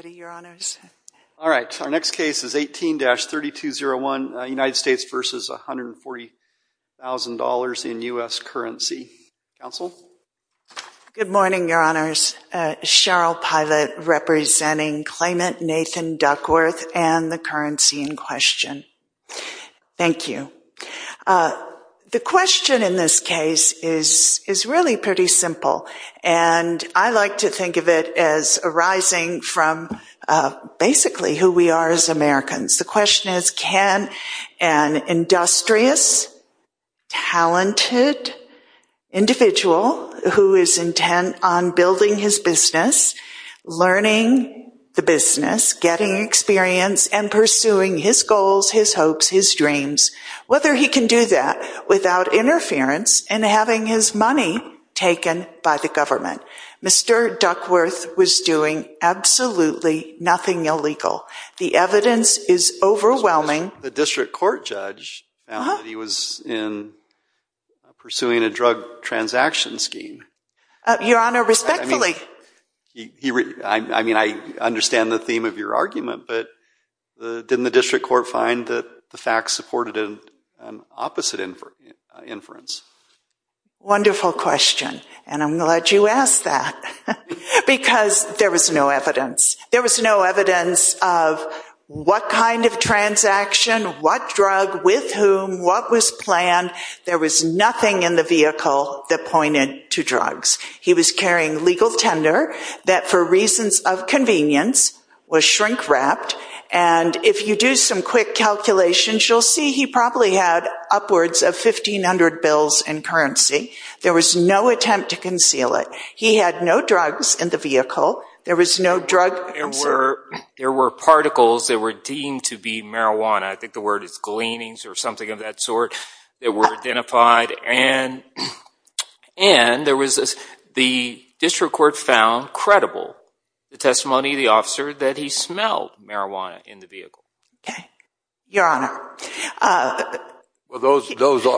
Good morning, your honors. Cheryl Pilot representing claimant Nathan Duckworth and the currency in question. Thank you. The question in this case is really pretty simple, and I like to basically who we are as Americans. The question is can an industrious, talented individual who is intent on building his business, learning the business, getting experience, and pursuing his goals, his hopes, his dreams, whether he can do that without interference and having his money taken by the government. Mr. Duckworth was doing absolutely nothing illegal. The evidence is overwhelming. The district court judge found that he was in pursuing a drug transaction scheme. Your honor, respectfully. I mean, I understand the theme of your argument, but didn't the district court find that the facts supported an opposite inference? Wonderful question, and I'm glad you asked that because there was no evidence. There was no evidence of what kind of transaction, what drug, with whom, what was planned. There was nothing in the vehicle that pointed to and if you do some quick calculations, you'll see he probably had upwards of 1,500 bills in currency. There was no attempt to conceal it. He had no drugs in the vehicle. There was no drug. There were particles that were deemed to be marijuana. I think the word is gleanings or something of that sort that were identified, and there was the district court found credible the testimony of the officer that he smelled marijuana in the vehicle. Okay, your honor. Well,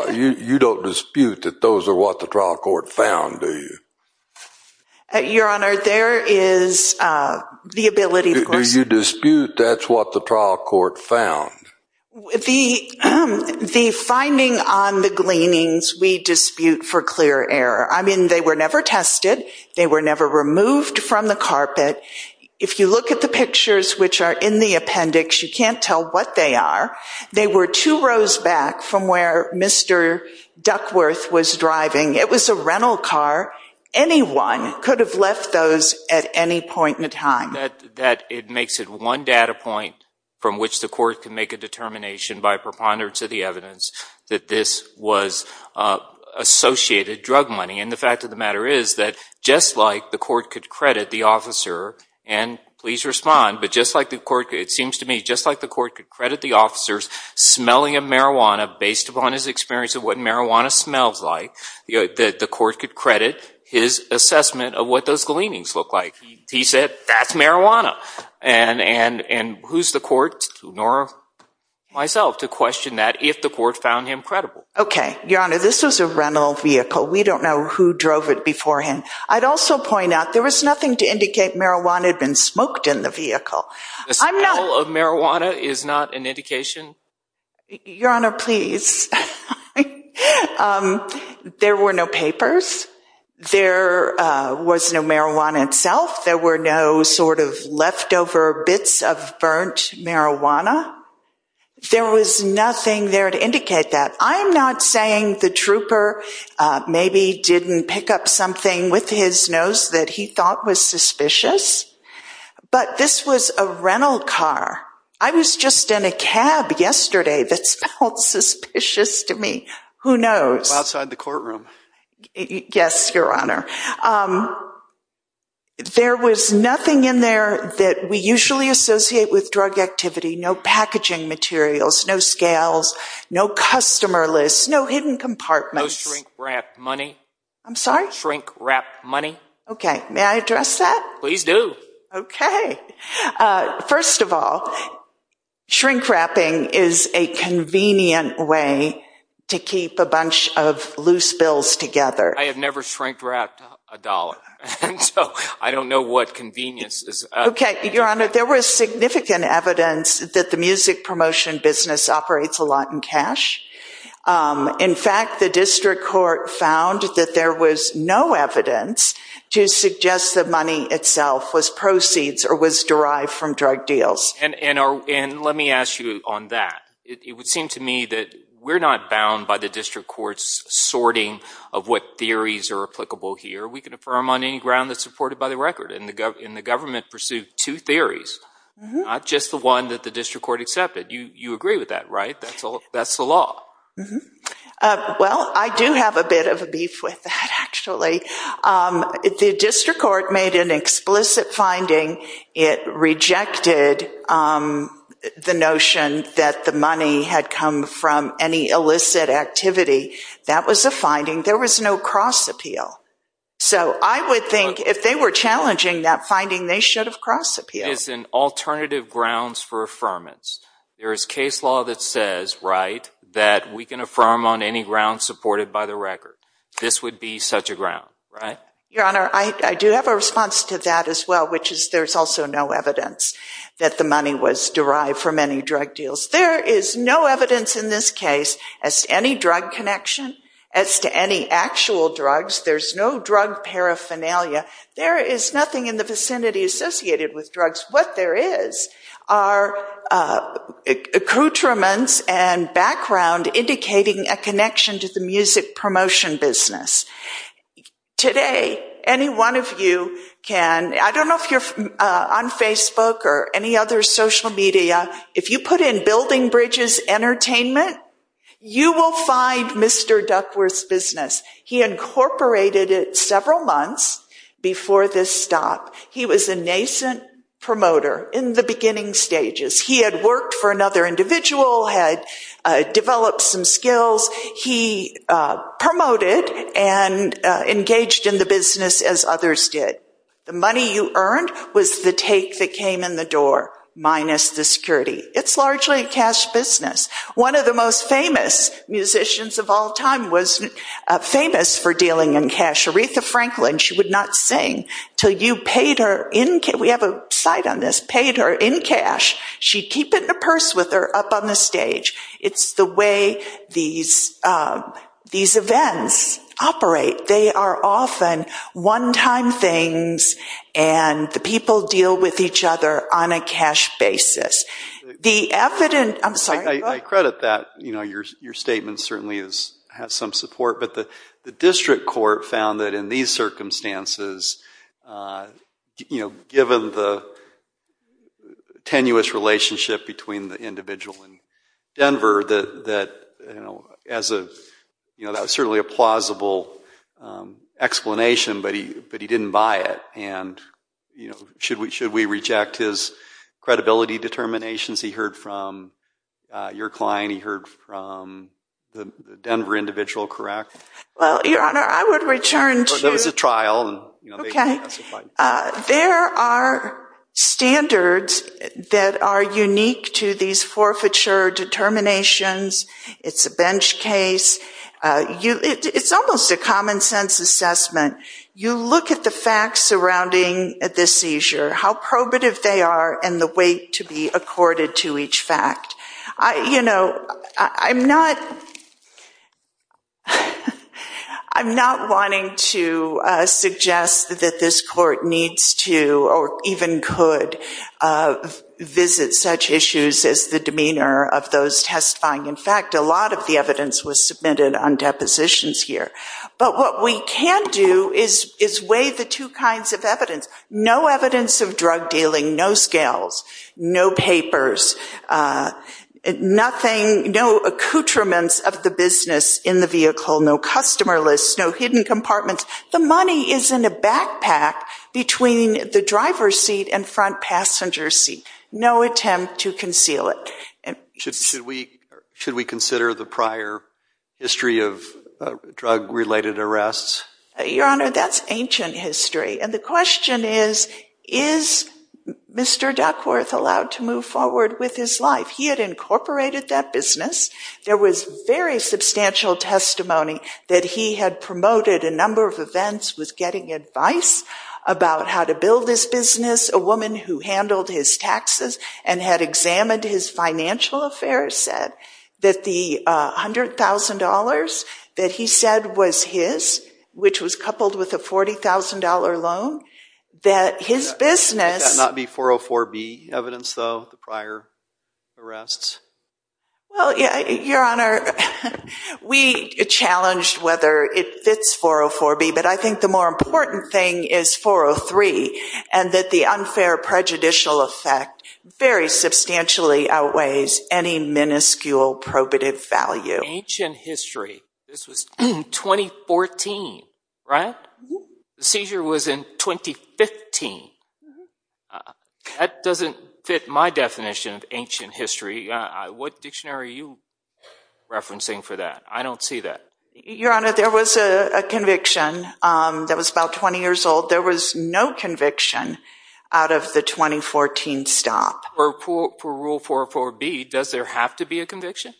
you don't dispute that those are what the trial court found, do you? Your honor, there is the ability. Do you dispute that's what the trial court found? The finding on the gleanings, we dispute for clear error. I mean, they were never tested. They were never removed from the carpet. If you look at the pictures which are in the appendix, you can't tell what they are. They were two rows back from where Mr. Duckworth was driving. It was a rental car. Anyone could have left those at any point in time. That it makes it one data point from which the court can make a determination by preponderance of the evidence that this was associated drug money. And the fact of the matter is that just like the court could credit the officer, and please respond, but just like the court, it seems to me, just like the court could credit the officers smelling of marijuana based upon his experience of what marijuana smells like, you know, that the court could credit his assessment of what those gleanings look like. He said that's marijuana. And who's the court, nor myself, to question that if the court found him credible. Okay. Your Honor, this was a rental vehicle. We don't know who drove it beforehand. I'd also point out there was nothing to indicate marijuana had been smoked in the vehicle. The smell of marijuana is not an indication? Your Honor, please. There were no papers. There was no marijuana itself. There were no sort of leftover bits of burnt marijuana. There was nothing there to indicate that. I'm not saying the trooper maybe didn't pick up something with his nose that he thought was suspicious, but this was a rental car. I was just in a cab yesterday that smelled suspicious to me. Who knows? Outside the courtroom. Yes, Your Honor. There was nothing in there that we usually associate with drug activity. No packaging materials, no scales, no customer lists, no hidden compartments. No shrink-wrap money. I'm sorry? Shrink-wrap money. Okay. May I address that? Please do. Okay. First of all, shrink-wrapping is a convenient way to keep a bunch of loose bills together. I have never shrink-wrapped a dollar. I don't know what convenience is. Okay. Your Honor, there was significant evidence that the music promotion business operates a lot in cash. In fact, the district court found that there was no evidence to suggest the money itself was proceeds or was derived from drug deals. And let me ask you on that. It would seem to me that we're not bound by the district court's sorting of what theories are applicable here. We can affirm on any ground that's supported by the record. And the government pursued two theories, not just the one that the district court accepted. You agree with that, right? That's the law. Well, I do have a bit of a beef with that, actually. If the district court made an explicit finding, it rejected the notion that the money had come from any illicit activity. That was a finding. There was no cross-appeal. So I would think if they were challenging that finding, they should have cross-appealed. It's an alternative grounds for affirmance. There is case law that says, right, that we can affirm on any ground supported by the right? Your Honor, I do have a response to that as well, which is there's also no evidence that the money was derived from any drug deals. There is no evidence in this case as to any drug connection, as to any actual drugs. There's no drug paraphernalia. There is nothing in the vicinity associated with drugs. What there is are accoutrements and today, any one of you can, I don't know if you're on Facebook or any other social media, if you put in Building Bridges Entertainment, you will find Mr. Duckworth's business. He incorporated it several months before this stop. He was a nascent promoter in the beginning stages. He had another individual, had developed some skills. He promoted and engaged in the business as others did. The money you earned was the take that came in the door, minus the security. It's largely a cash business. One of the most famous musicians of all time was famous for dealing in cash, Aretha Franklin. She would not sing until you paid her in cash. We have a site on this, paid her in a purse with her up on the stage. It's the way these events operate. They are often one-time things and the people deal with each other on a cash basis. I credit that. Your statement certainly has some support, but the district court found that in these circumstances, given the individual in Denver, that was certainly a plausible explanation, but he didn't buy it. Should we reject his credibility determinations? He heard from your client. He heard from the Denver individual, correct? Well, Your Honor, I would return to... There was a trial. Okay. There are standards that are unique to these forfeiture determinations. It's a bench case. It's almost a common sense assessment. You look at the facts surrounding this seizure, how probative they are, and the weight to be accorded to each fact. I'm not wanting to suggest that this court needs to, or even could, visit such issues as the demeanor of those testifying. In fact, a lot of the evidence was submitted on depositions here. But what we can do is weigh the two kinds of evidence. No evidence of drug dealing, no scales, no papers, no accoutrements of the business in the vehicle, no customer lists, no hidden compartments. The money is in a backpack between the driver's seat and front passenger seat. No attempt to conceal it. Should we consider the prior history of drug-related arrests? Your Honor, that's ancient history. And the question is, is Mr. Duckworth allowed to move forward with his life? He had incorporated that business. There was very substantial testimony that he had promoted a number of events with getting advice about how to build this business. A woman who handled his taxes and had examined his financial affairs said that the $100,000 that he said was his, which was coupled with a $40,000 loan, that his business— It cannot be 404B evidence, though, the prior arrests? Well, yeah, Your Honor, we challenged whether it fits 404B, but I think the more important thing is 403, and that the unfair prejudicial effect very substantially outweighs any miniscule probative value. Ancient history. This was 2014, right? The seizure was in 2015. That doesn't fit my definition of ancient history. What dictionary are you referencing for that? I was about 20 years old. There was no conviction out of the 2014 stop. For rule 404B, does there have to be a conviction?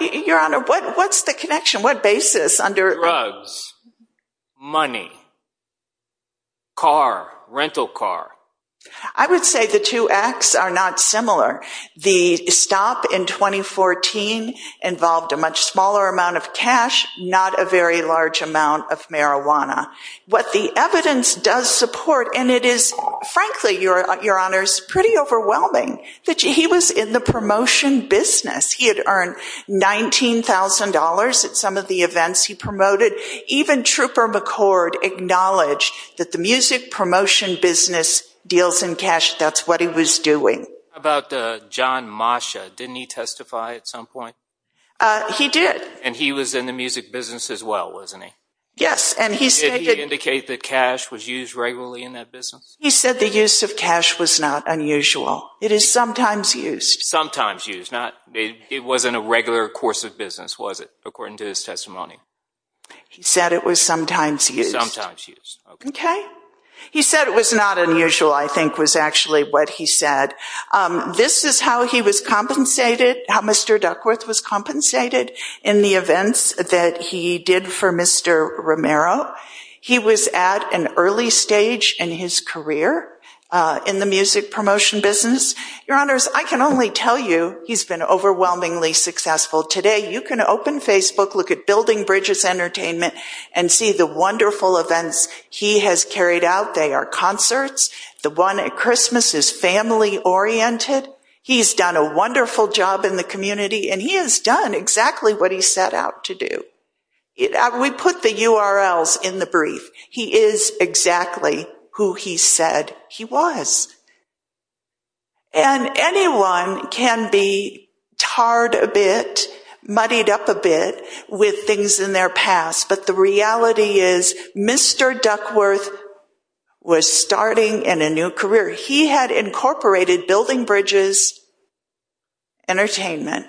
Your Honor, what's the connection? What basis under— Drugs. Money. Car. Rental car. I would say the two acts are not similar. The stop in 2014 involved a much smaller amount of cash, not a very large amount of marijuana. What the evidence does support, and it is, frankly, Your Honor, pretty overwhelming, that he was in the promotion business. He had earned $19,000 at some of the events he promoted. Even Trooper McCord acknowledged that the music promotion business deals in cash. That's what he was doing. How about John Moshe? Didn't he testify at some point? He did. And he was in the music business as well, wasn't he? Yes. Did he indicate that cash was used regularly in that business? He said the use of cash was not unusual. It is sometimes used. Sometimes used. It wasn't a regular course of business, was it, according to his testimony? He said it was sometimes used. Sometimes used. Okay. He said it was not unusual, I think, was actually what he said. This is how he was compensated, how Mr. Duckworth was compensated in the events that he did for Mr. Romero. He was at an early stage in his career in the music promotion business. Your Honors, I can only tell you he's been overwhelmingly successful today. You can open Facebook, look at Building Bridges Entertainment, and see the wonderful events he has carried out. They are concerts, the one at Christmas is family-oriented. He's done a wonderful job in the community, and he has done exactly what he set out to do. We put the URLs in the brief. He is exactly who he said he was. And anyone can be tarred a bit, muddied up a bit with things in their past, but the reality is Mr. Duckworth was starting in a new career. He had incorporated Building Bridges Entertainment,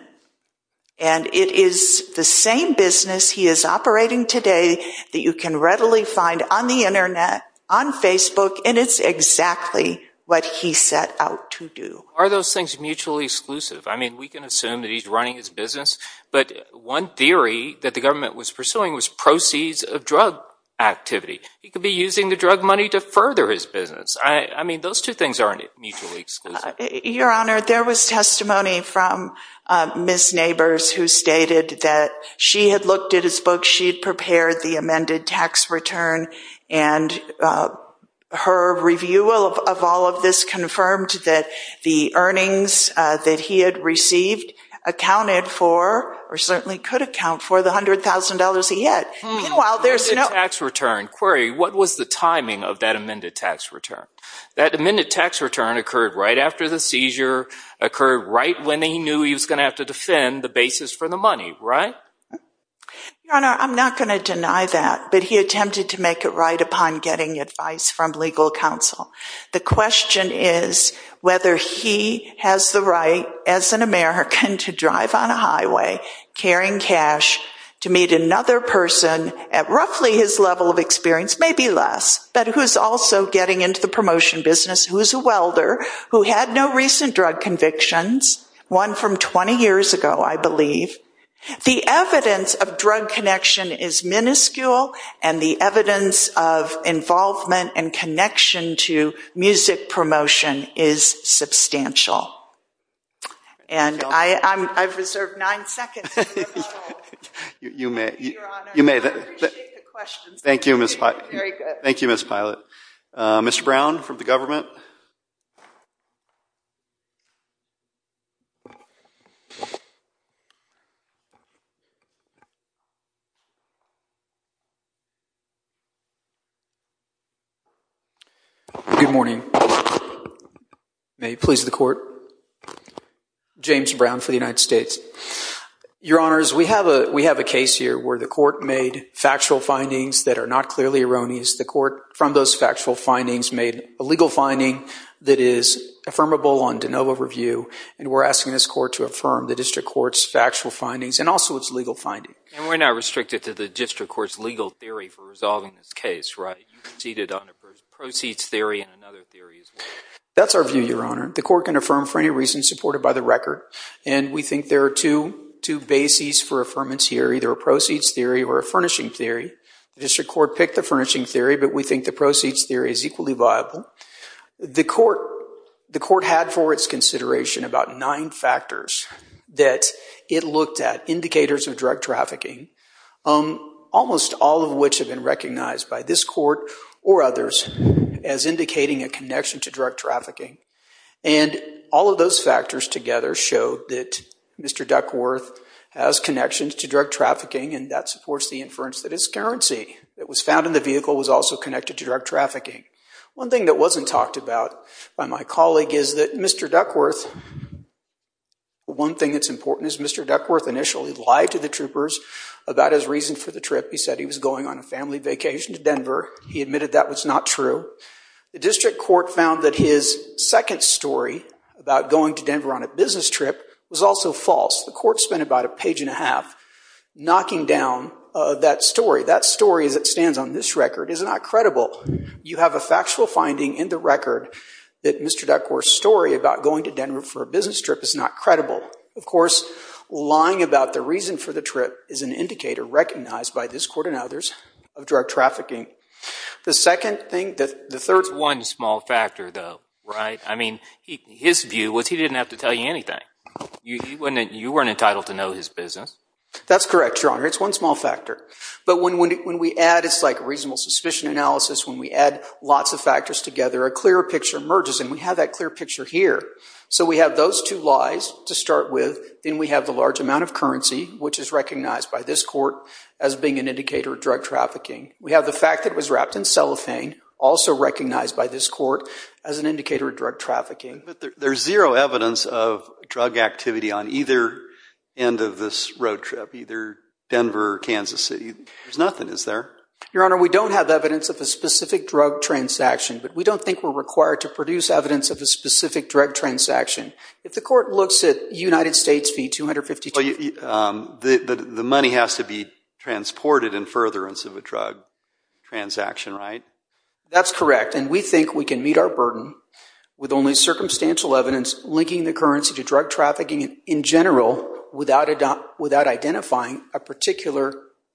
and it is the same business he is operating today that you can readily find on the internet, on Facebook, and it's exactly what he set out to do. Are those things mutually exclusive? I mean, we can assume that he's running his business, but one theory that the government was pursuing was proceeds of drug activity. He could be using the drug money to further his business. I mean, those two things aren't mutually exclusive. Your Honor, there was testimony from Ms. Neighbors who stated that she had looked at his book, she had prepared the amended tax return, and her review of all of this confirmed that the earnings that he had received accounted for, or certainly could account for, the $100,000 he had. Meanwhile, there's no- Amended tax return. Query, what was the timing of that amended tax return? That amended tax return occurred right after the seizure, occurred right when he knew he was going to have to defend the basis for the money, right? Your Honor, I'm not going to deny that, but he attempted to make it right upon getting advice from legal counsel. The question is whether he has the right as an American to drive on a highway, carrying cash, to meet another person at roughly his level of experience, maybe less, but who's also getting into the promotion business, who's a welder, who had no recent drug convictions, one from 20 years ago, I believe. The evidence of drug connection is minuscule, and the evidence of involvement and connection to music promotion is substantial. And I've reserved nine seconds. You may. Your Honor, I appreciate the questions. Thank you, Ms. Pilot. Very good. Good morning. May it please the Court. James Brown for the United States. Your Honors, we have a case here where the Court made factual findings that are not clearly erroneous. The Court, from those factual findings, made a legal finding that is affirmable on de novo review, and we're asking this Court to affirm the District Court's factual findings. And we're not restricted to the District Court's legal theory for resolving this case, right? You conceded on a proceeds theory and another theory as well. That's our view, Your Honor. The Court can affirm for any reason supported by the record, and we think there are two bases for affirmance here, either a proceeds theory or a furnishing theory. The District Court picked the furnishing theory, but we think the proceeds theory is indicators of drug trafficking, almost all of which have been recognized by this Court or others as indicating a connection to drug trafficking. And all of those factors together show that Mr. Duckworth has connections to drug trafficking, and that supports the inference that his currency that was found in the vehicle was also connected to drug trafficking. One thing that wasn't talked about by my colleague is Mr. Duckworth. One thing that's important is Mr. Duckworth initially lied to the troopers about his reason for the trip. He said he was going on a family vacation to Denver. He admitted that was not true. The District Court found that his second story about going to Denver on a business trip was also false. The Court spent about a page and a half knocking down that story. That story, as it stands on this record, is not credible. You have a factual finding in the record that Mr. Duckworth's story about going to Denver for a business trip is not credible. Of course, lying about the reason for the trip is an indicator recognized by this Court and others of drug trafficking. The second thing, the third— It's one small factor though, right? I mean, his view was he didn't have to tell you anything. You weren't entitled to know his business. That's correct, Your Honor. It's one small factor. But when we add it's like reasonable suspicion analysis, when we add lots of factors together, a clearer picture emerges. And we have that clear picture here. So we have those two lies to start with. Then we have the large amount of currency, which is recognized by this Court as being an indicator of drug trafficking. We have the fact that it was wrapped in cellophane, also recognized by this Court as an indicator of drug trafficking. But there's zero evidence of drug activity on either end of this road trip, either Denver or Kansas City. There's nothing, is there? Your Honor, we don't have evidence of a specific drug transaction, but we don't think we're required to produce evidence of a specific drug transaction. If the Court looks at United States fee 252— The money has to be transported in furtherance of a drug transaction, right? That's correct. And we think we can meet our burden with only circumstantial evidence linking the currency to drug trafficking in general without identifying a particular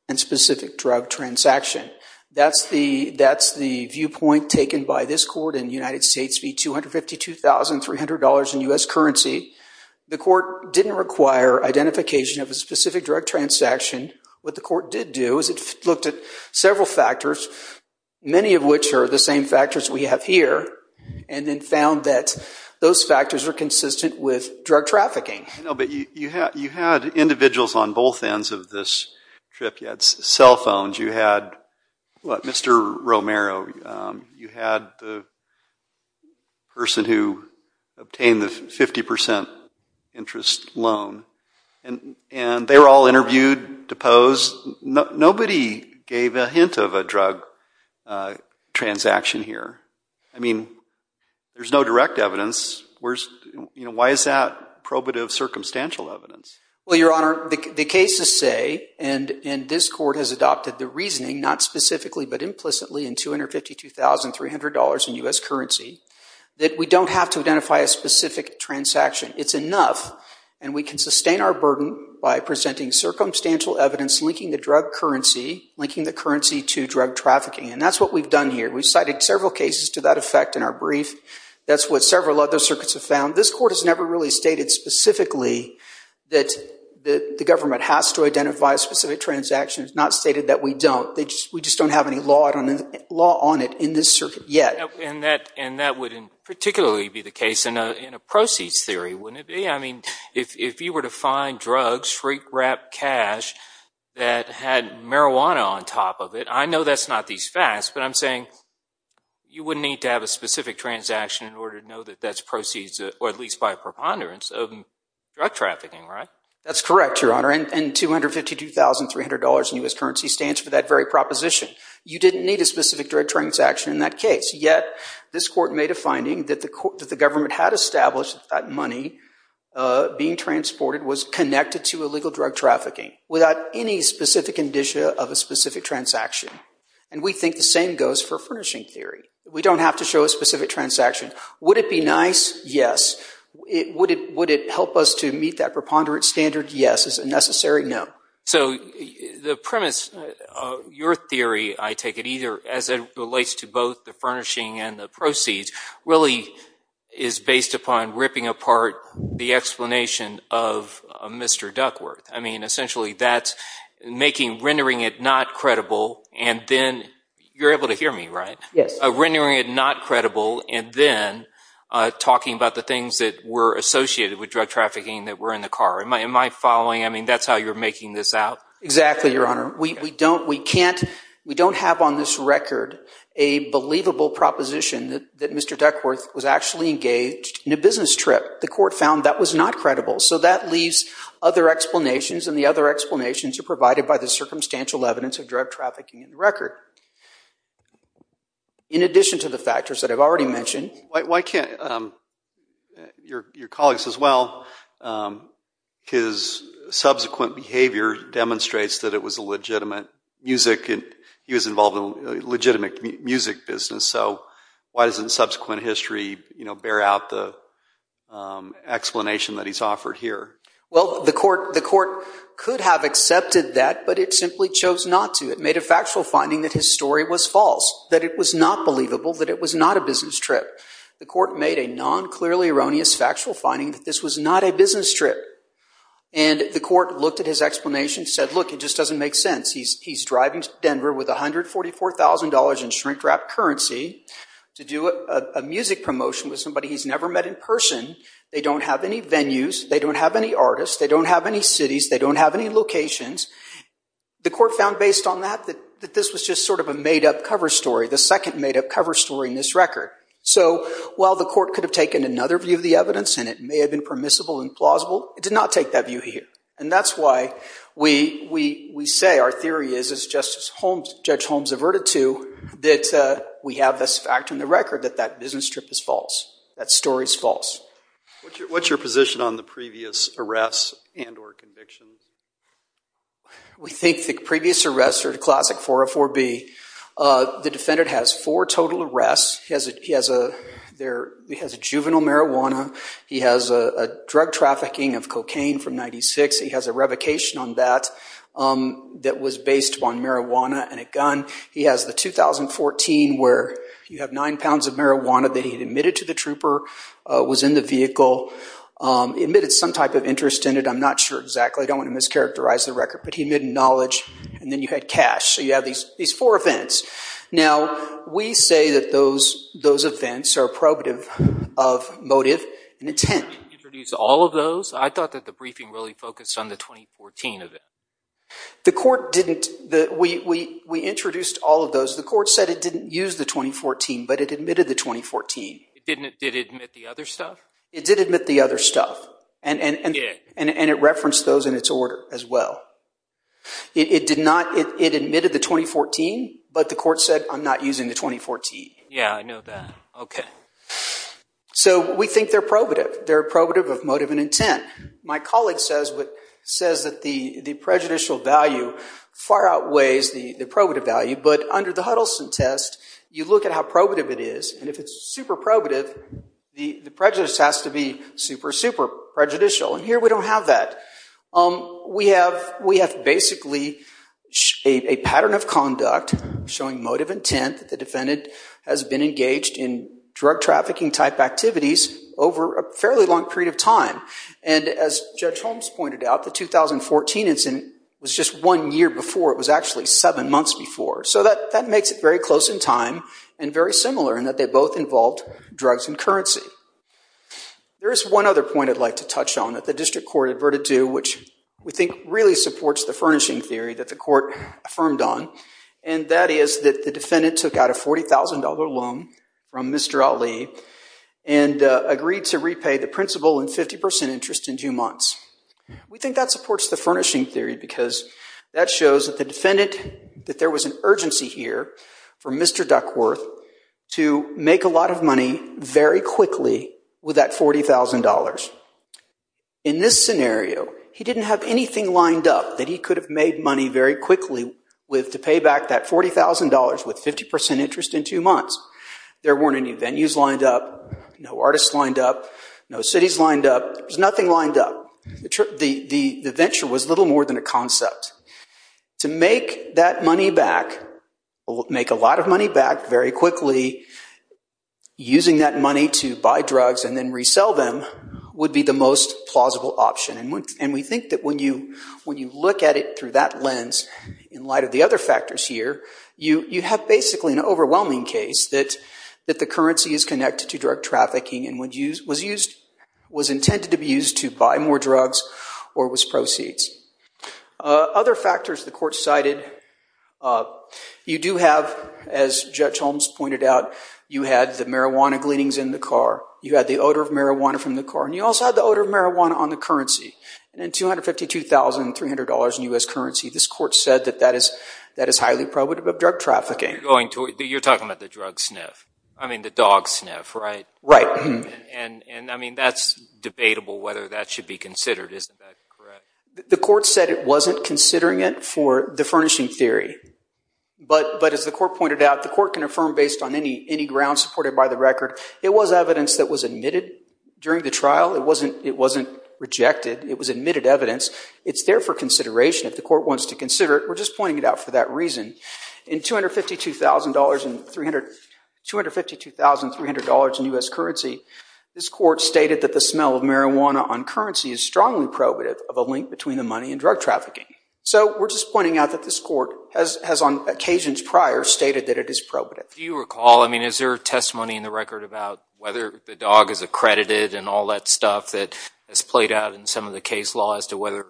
and specific drug transaction. That's the viewpoint taken by this Court in United States fee $252,300 in U.S. currency. The Court didn't require identification of a specific drug transaction. What the Court did do is it looked at several factors, many of which are the same factors we have here, and then found that those factors are consistent with drug trafficking. No, but you had individuals on both ends of this trip. You had cell phones. You had, what, Mr. Romero. You had the person who obtained the 50 percent interest loan, and they were all interviewed, deposed. Nobody gave a hint of a drug transaction here. I mean, there's no direct evidence. Why is that probative circumstantial evidence? Well, Your Honor, the cases say, and this Court has adopted the reasoning, not specifically but implicitly, in $252,300 in U.S. currency, that we don't have to identify a specific transaction. It's enough, and we can sustain our burden by presenting circumstantial evidence linking the drug currency, linking the currency to drug trafficking. And that's what we've done here. We've cited several cases to that effect in our brief. That's what several other circuits have found. This Court has never really stated specifically that the government has to identify a specific transaction. It's not stated that we don't. We just don't have any law on it in this circuit yet. And that wouldn't particularly be the case in a proceeds theory, wouldn't it be? I mean, if you were to find drugs, freak-wrapped cash that had marijuana on top of it, I know that's not these facts, but I'm saying you would need to have a specific transaction in order to know that that's proceeds, or at least by a preponderance, of drug trafficking, right? That's correct, Your Honor. And $252,300 in U.S. currency stands for that very proposition. You didn't need a specific drug transaction in that case. Yet, this Court made a finding that the government had established that money being transported was connected to illegal drug trafficking without any specific indicia of a specific transaction. And we think the same goes for furnishing theory. We don't have to show a specific transaction. Would it be nice? Yes. Would it help us to meet that preponderance standard? Yes. Is it necessary? No. So the premise of your theory, I take it either, as it relates to both the furnishing and the essentially that's rendering it not credible and then, you're able to hear me, right? Yes. Rendering it not credible and then talking about the things that were associated with drug trafficking that were in the car. Am I following? I mean, that's how you're making this out? Exactly, Your Honor. We don't have on this record a believable proposition that Mr. Duckworth was actually engaged in a business trip. The Court found that was not credible, so that leaves other explanations and the other explanations are provided by the circumstantial evidence of drug trafficking in the record. In addition to the factors that I've already mentioned. Why can't your colleagues as well, his subsequent behavior demonstrates that it was a legitimate music and he was involved in a legitimate music business, so why doesn't subsequent history, you know, bear out the explanation that he's offered here? Well, the Court could have accepted that, but it simply chose not to. It made a factual finding that his story was false, that it was not believable, that it was not a business trip. The Court made a non-clearly erroneous factual finding that this was not a business trip and the Court looked at his explanation said, look, it just doesn't make sense. He's driving to Denver with $144,000 in shrink-wrapped currency to do a music promotion with somebody he's never met in person. They don't have any venues, they don't have any artists, they don't have any cities, they don't have any locations. The Court found based on that that this was just sort of a made-up cover story, the second made-up cover story in this record. So while the Court could have taken another view of the evidence and it may have been permissible and plausible, it did not take that view here. And that's why we say our theory is, as Judge Holmes averted to, that we have this fact in the record that that business trip is false, that story is false. What's your position on the previous arrests and or convictions? We think the previous arrests are classic 404B. The defendant has four total arrests. He has a juvenile marijuana, he has a drug trafficking of cocaine from 1996, he has a revocation on that that was based on marijuana and a gun. He has the 2014 where you have nine pounds of marijuana that he admitted to the trooper, was in the vehicle, admitted some type of interest in it. I'm not sure exactly, I don't want to mischaracterize the record, but he admitted knowledge and then you had cash. So you have these four events. Now we say that those events are probative of motive and intent. All of those, I thought that the briefing really focused on the 2014 of it. The court didn't, we introduced all of those. The court said it didn't use the 2014, but it admitted the 2014. It didn't, did it admit the other stuff? It did admit the other stuff and it referenced those in its order as well. It did not, it admitted the 2014, but the court said I'm not using the 2014. Yeah, I know that. Okay. So we think they're probative. They're probative of motive and intent. My colleague says that the prejudicial value far outweighs the probative value, but under the Huddleston test, you look at how probative it is and if it's super probative, the prejudice has to be super, super prejudicial and here we don't have that. We have basically a pattern of conduct showing motive intent that the defendant has been engaged in drug trafficking type activities over a fairly long period of time. And as Judge Holmes pointed out, the 2014 incident was just one year before. It was actually seven months before. So that makes it very close in time and very similar in that they both involved drugs and currency. There is one other point I'd like to touch on that the district court adverted to, which we think really supports the furnishing theory that the court affirmed on, and that is that the defendant took out a $40,000 loan from Mr. Ali and agreed to repay the principal in 50% interest in two months. We think that supports the furnishing theory because that shows that the defendant, that there was an urgency here for Mr. Duckworth to make a lot of money very quickly with that $40,000. In this scenario, he didn't have anything lined up that he could have made money very quickly with to pay back that $40,000 with 50% interest in two months. There weren't any venues lined up, no artists lined up, no cities lined up. There was nothing lined up. The venture was little more than a concept. To make that money back, make a lot of money back very quickly, using that money to buy drugs and then resell them would be the most plausible option. And we think that when you look at it through that lens, in light of the other factors here, you have basically an overwhelming case that the currency is connected to drug trafficking and was intended to be used to buy more drugs or was proceeds. Other factors the court cited, you do have, as Judge Holmes pointed out, you had the marijuana gleanings in the car, you had the odor of marijuana from the car, and you also had the odor of marijuana on the currency. And in $252,300 in U.S. currency, this court said that that is highly probative of drug trafficking. You're talking about the drug sniff, I mean the dog sniff, right? Right. And I mean that's debatable whether that should be considered, isn't that correct? The court said it wasn't considering it for the furnishing theory. But as the court pointed out, the court can affirm based on any ground supported by the record, it was evidence that was admitted during the trial. It wasn't rejected, it was admitted evidence. It's there for consideration if the court wants to consider it. We're just pointing it out for that reason. In $252,300 in U.S. currency, this court stated that the smell of marijuana on currency is strongly probative of a link between the money and drug trafficking. So we're just pointing out that this court has on occasions prior stated that it is probative. Do you recall, I mean is there a testimony in the record about whether the dog is accredited and all that stuff that has played out in some of the case law as to whether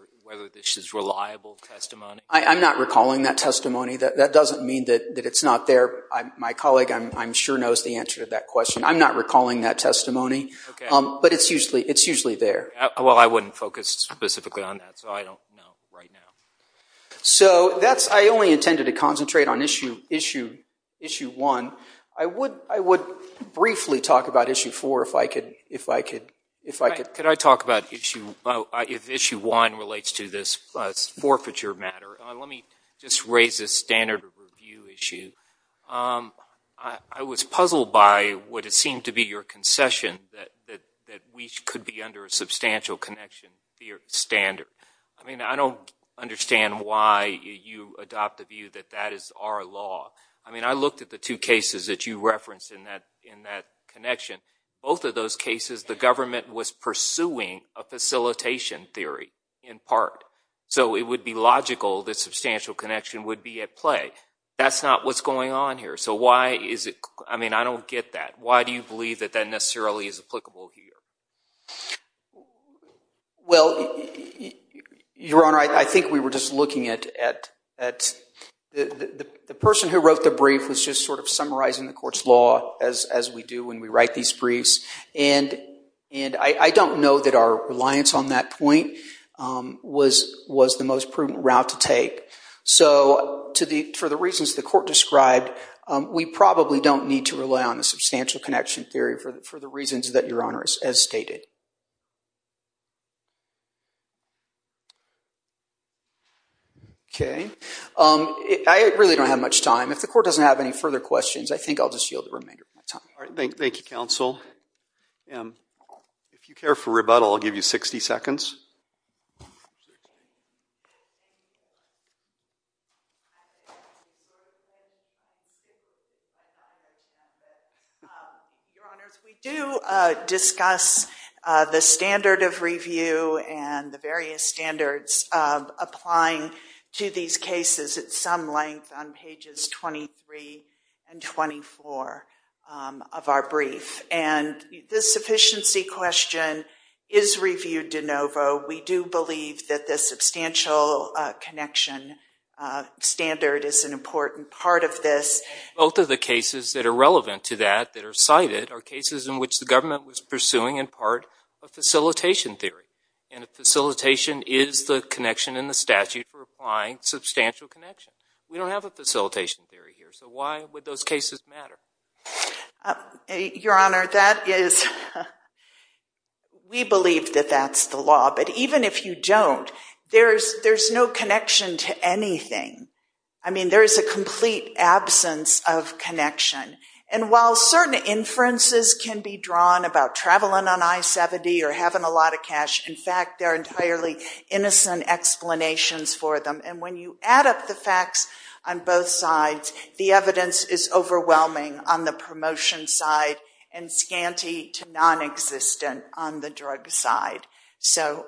this is reliable testimony? I'm not recalling that testimony. That doesn't mean that it's not there. My colleague I'm sure knows the answer to that question. I'm not recalling that testimony. Okay. But it's usually there. Well I wouldn't focus specifically on that so I don't know right now. So I only intended to concentrate on issue one. I would briefly talk about issue four if I could. Could I talk about issue one if issue one relates to this forfeiture matter? Let me just raise this standard of review issue. I was puzzled by what it seemed to be your standard. I mean I don't understand why you adopt the view that that is our law. I mean I looked at the two cases that you referenced in that connection. Both of those cases the government was pursuing a facilitation theory in part. So it would be logical that substantial connection would be at play. That's not what's going on here. So why is it, I mean I don't get that. Why do you believe that that necessarily is applicable here? Well, Your Honor, I think we were just looking at the person who wrote the brief was just sort of summarizing the court's law as we do when we write these briefs. And I don't know that our reliance on that point was the most prudent route to take. So for the reasons the court described, we probably don't need to rely on a substantial connection theory for the reasons that Your Honor has stated. Okay, I really don't have much time. If the court doesn't have any further questions, I think I'll just yield the remainder of my time. All right, thank you counsel. If you care for rebuttal, I'll give you 60 seconds. Your Honors, we do discuss the standard of review and the various standards of applying to these cases at some length on pages 23 and 24 of our brief. And this sufficiency question is reviewed de novo. We do believe that the substantial connection standard is an important part of this. Both of the cases that are relevant to that that are cited are cases in which the government was pursuing in part a facilitation theory. And a facilitation is the connection in the statute for applying substantial connections. We don't have a facilitation theory here, so why would those cases matter? Your Honor, we believe that that's the law. Even if you don't, there's no connection to anything. I mean, there is a complete absence of connection. And while certain inferences can be drawn about traveling on I-70 or having a lot of cash, in fact, there are entirely innocent explanations for them. And when you add up the facts on both sides, the evidence is overwhelming on the promotion side and scanty to non-existent on the drug side. So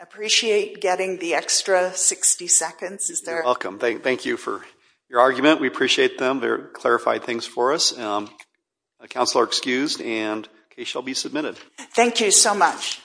appreciate getting the extra 60 seconds. You're welcome. Thank you for your argument. We appreciate them. They're clarified things for us. Counselor excused and case shall be submitted. Thank you so much.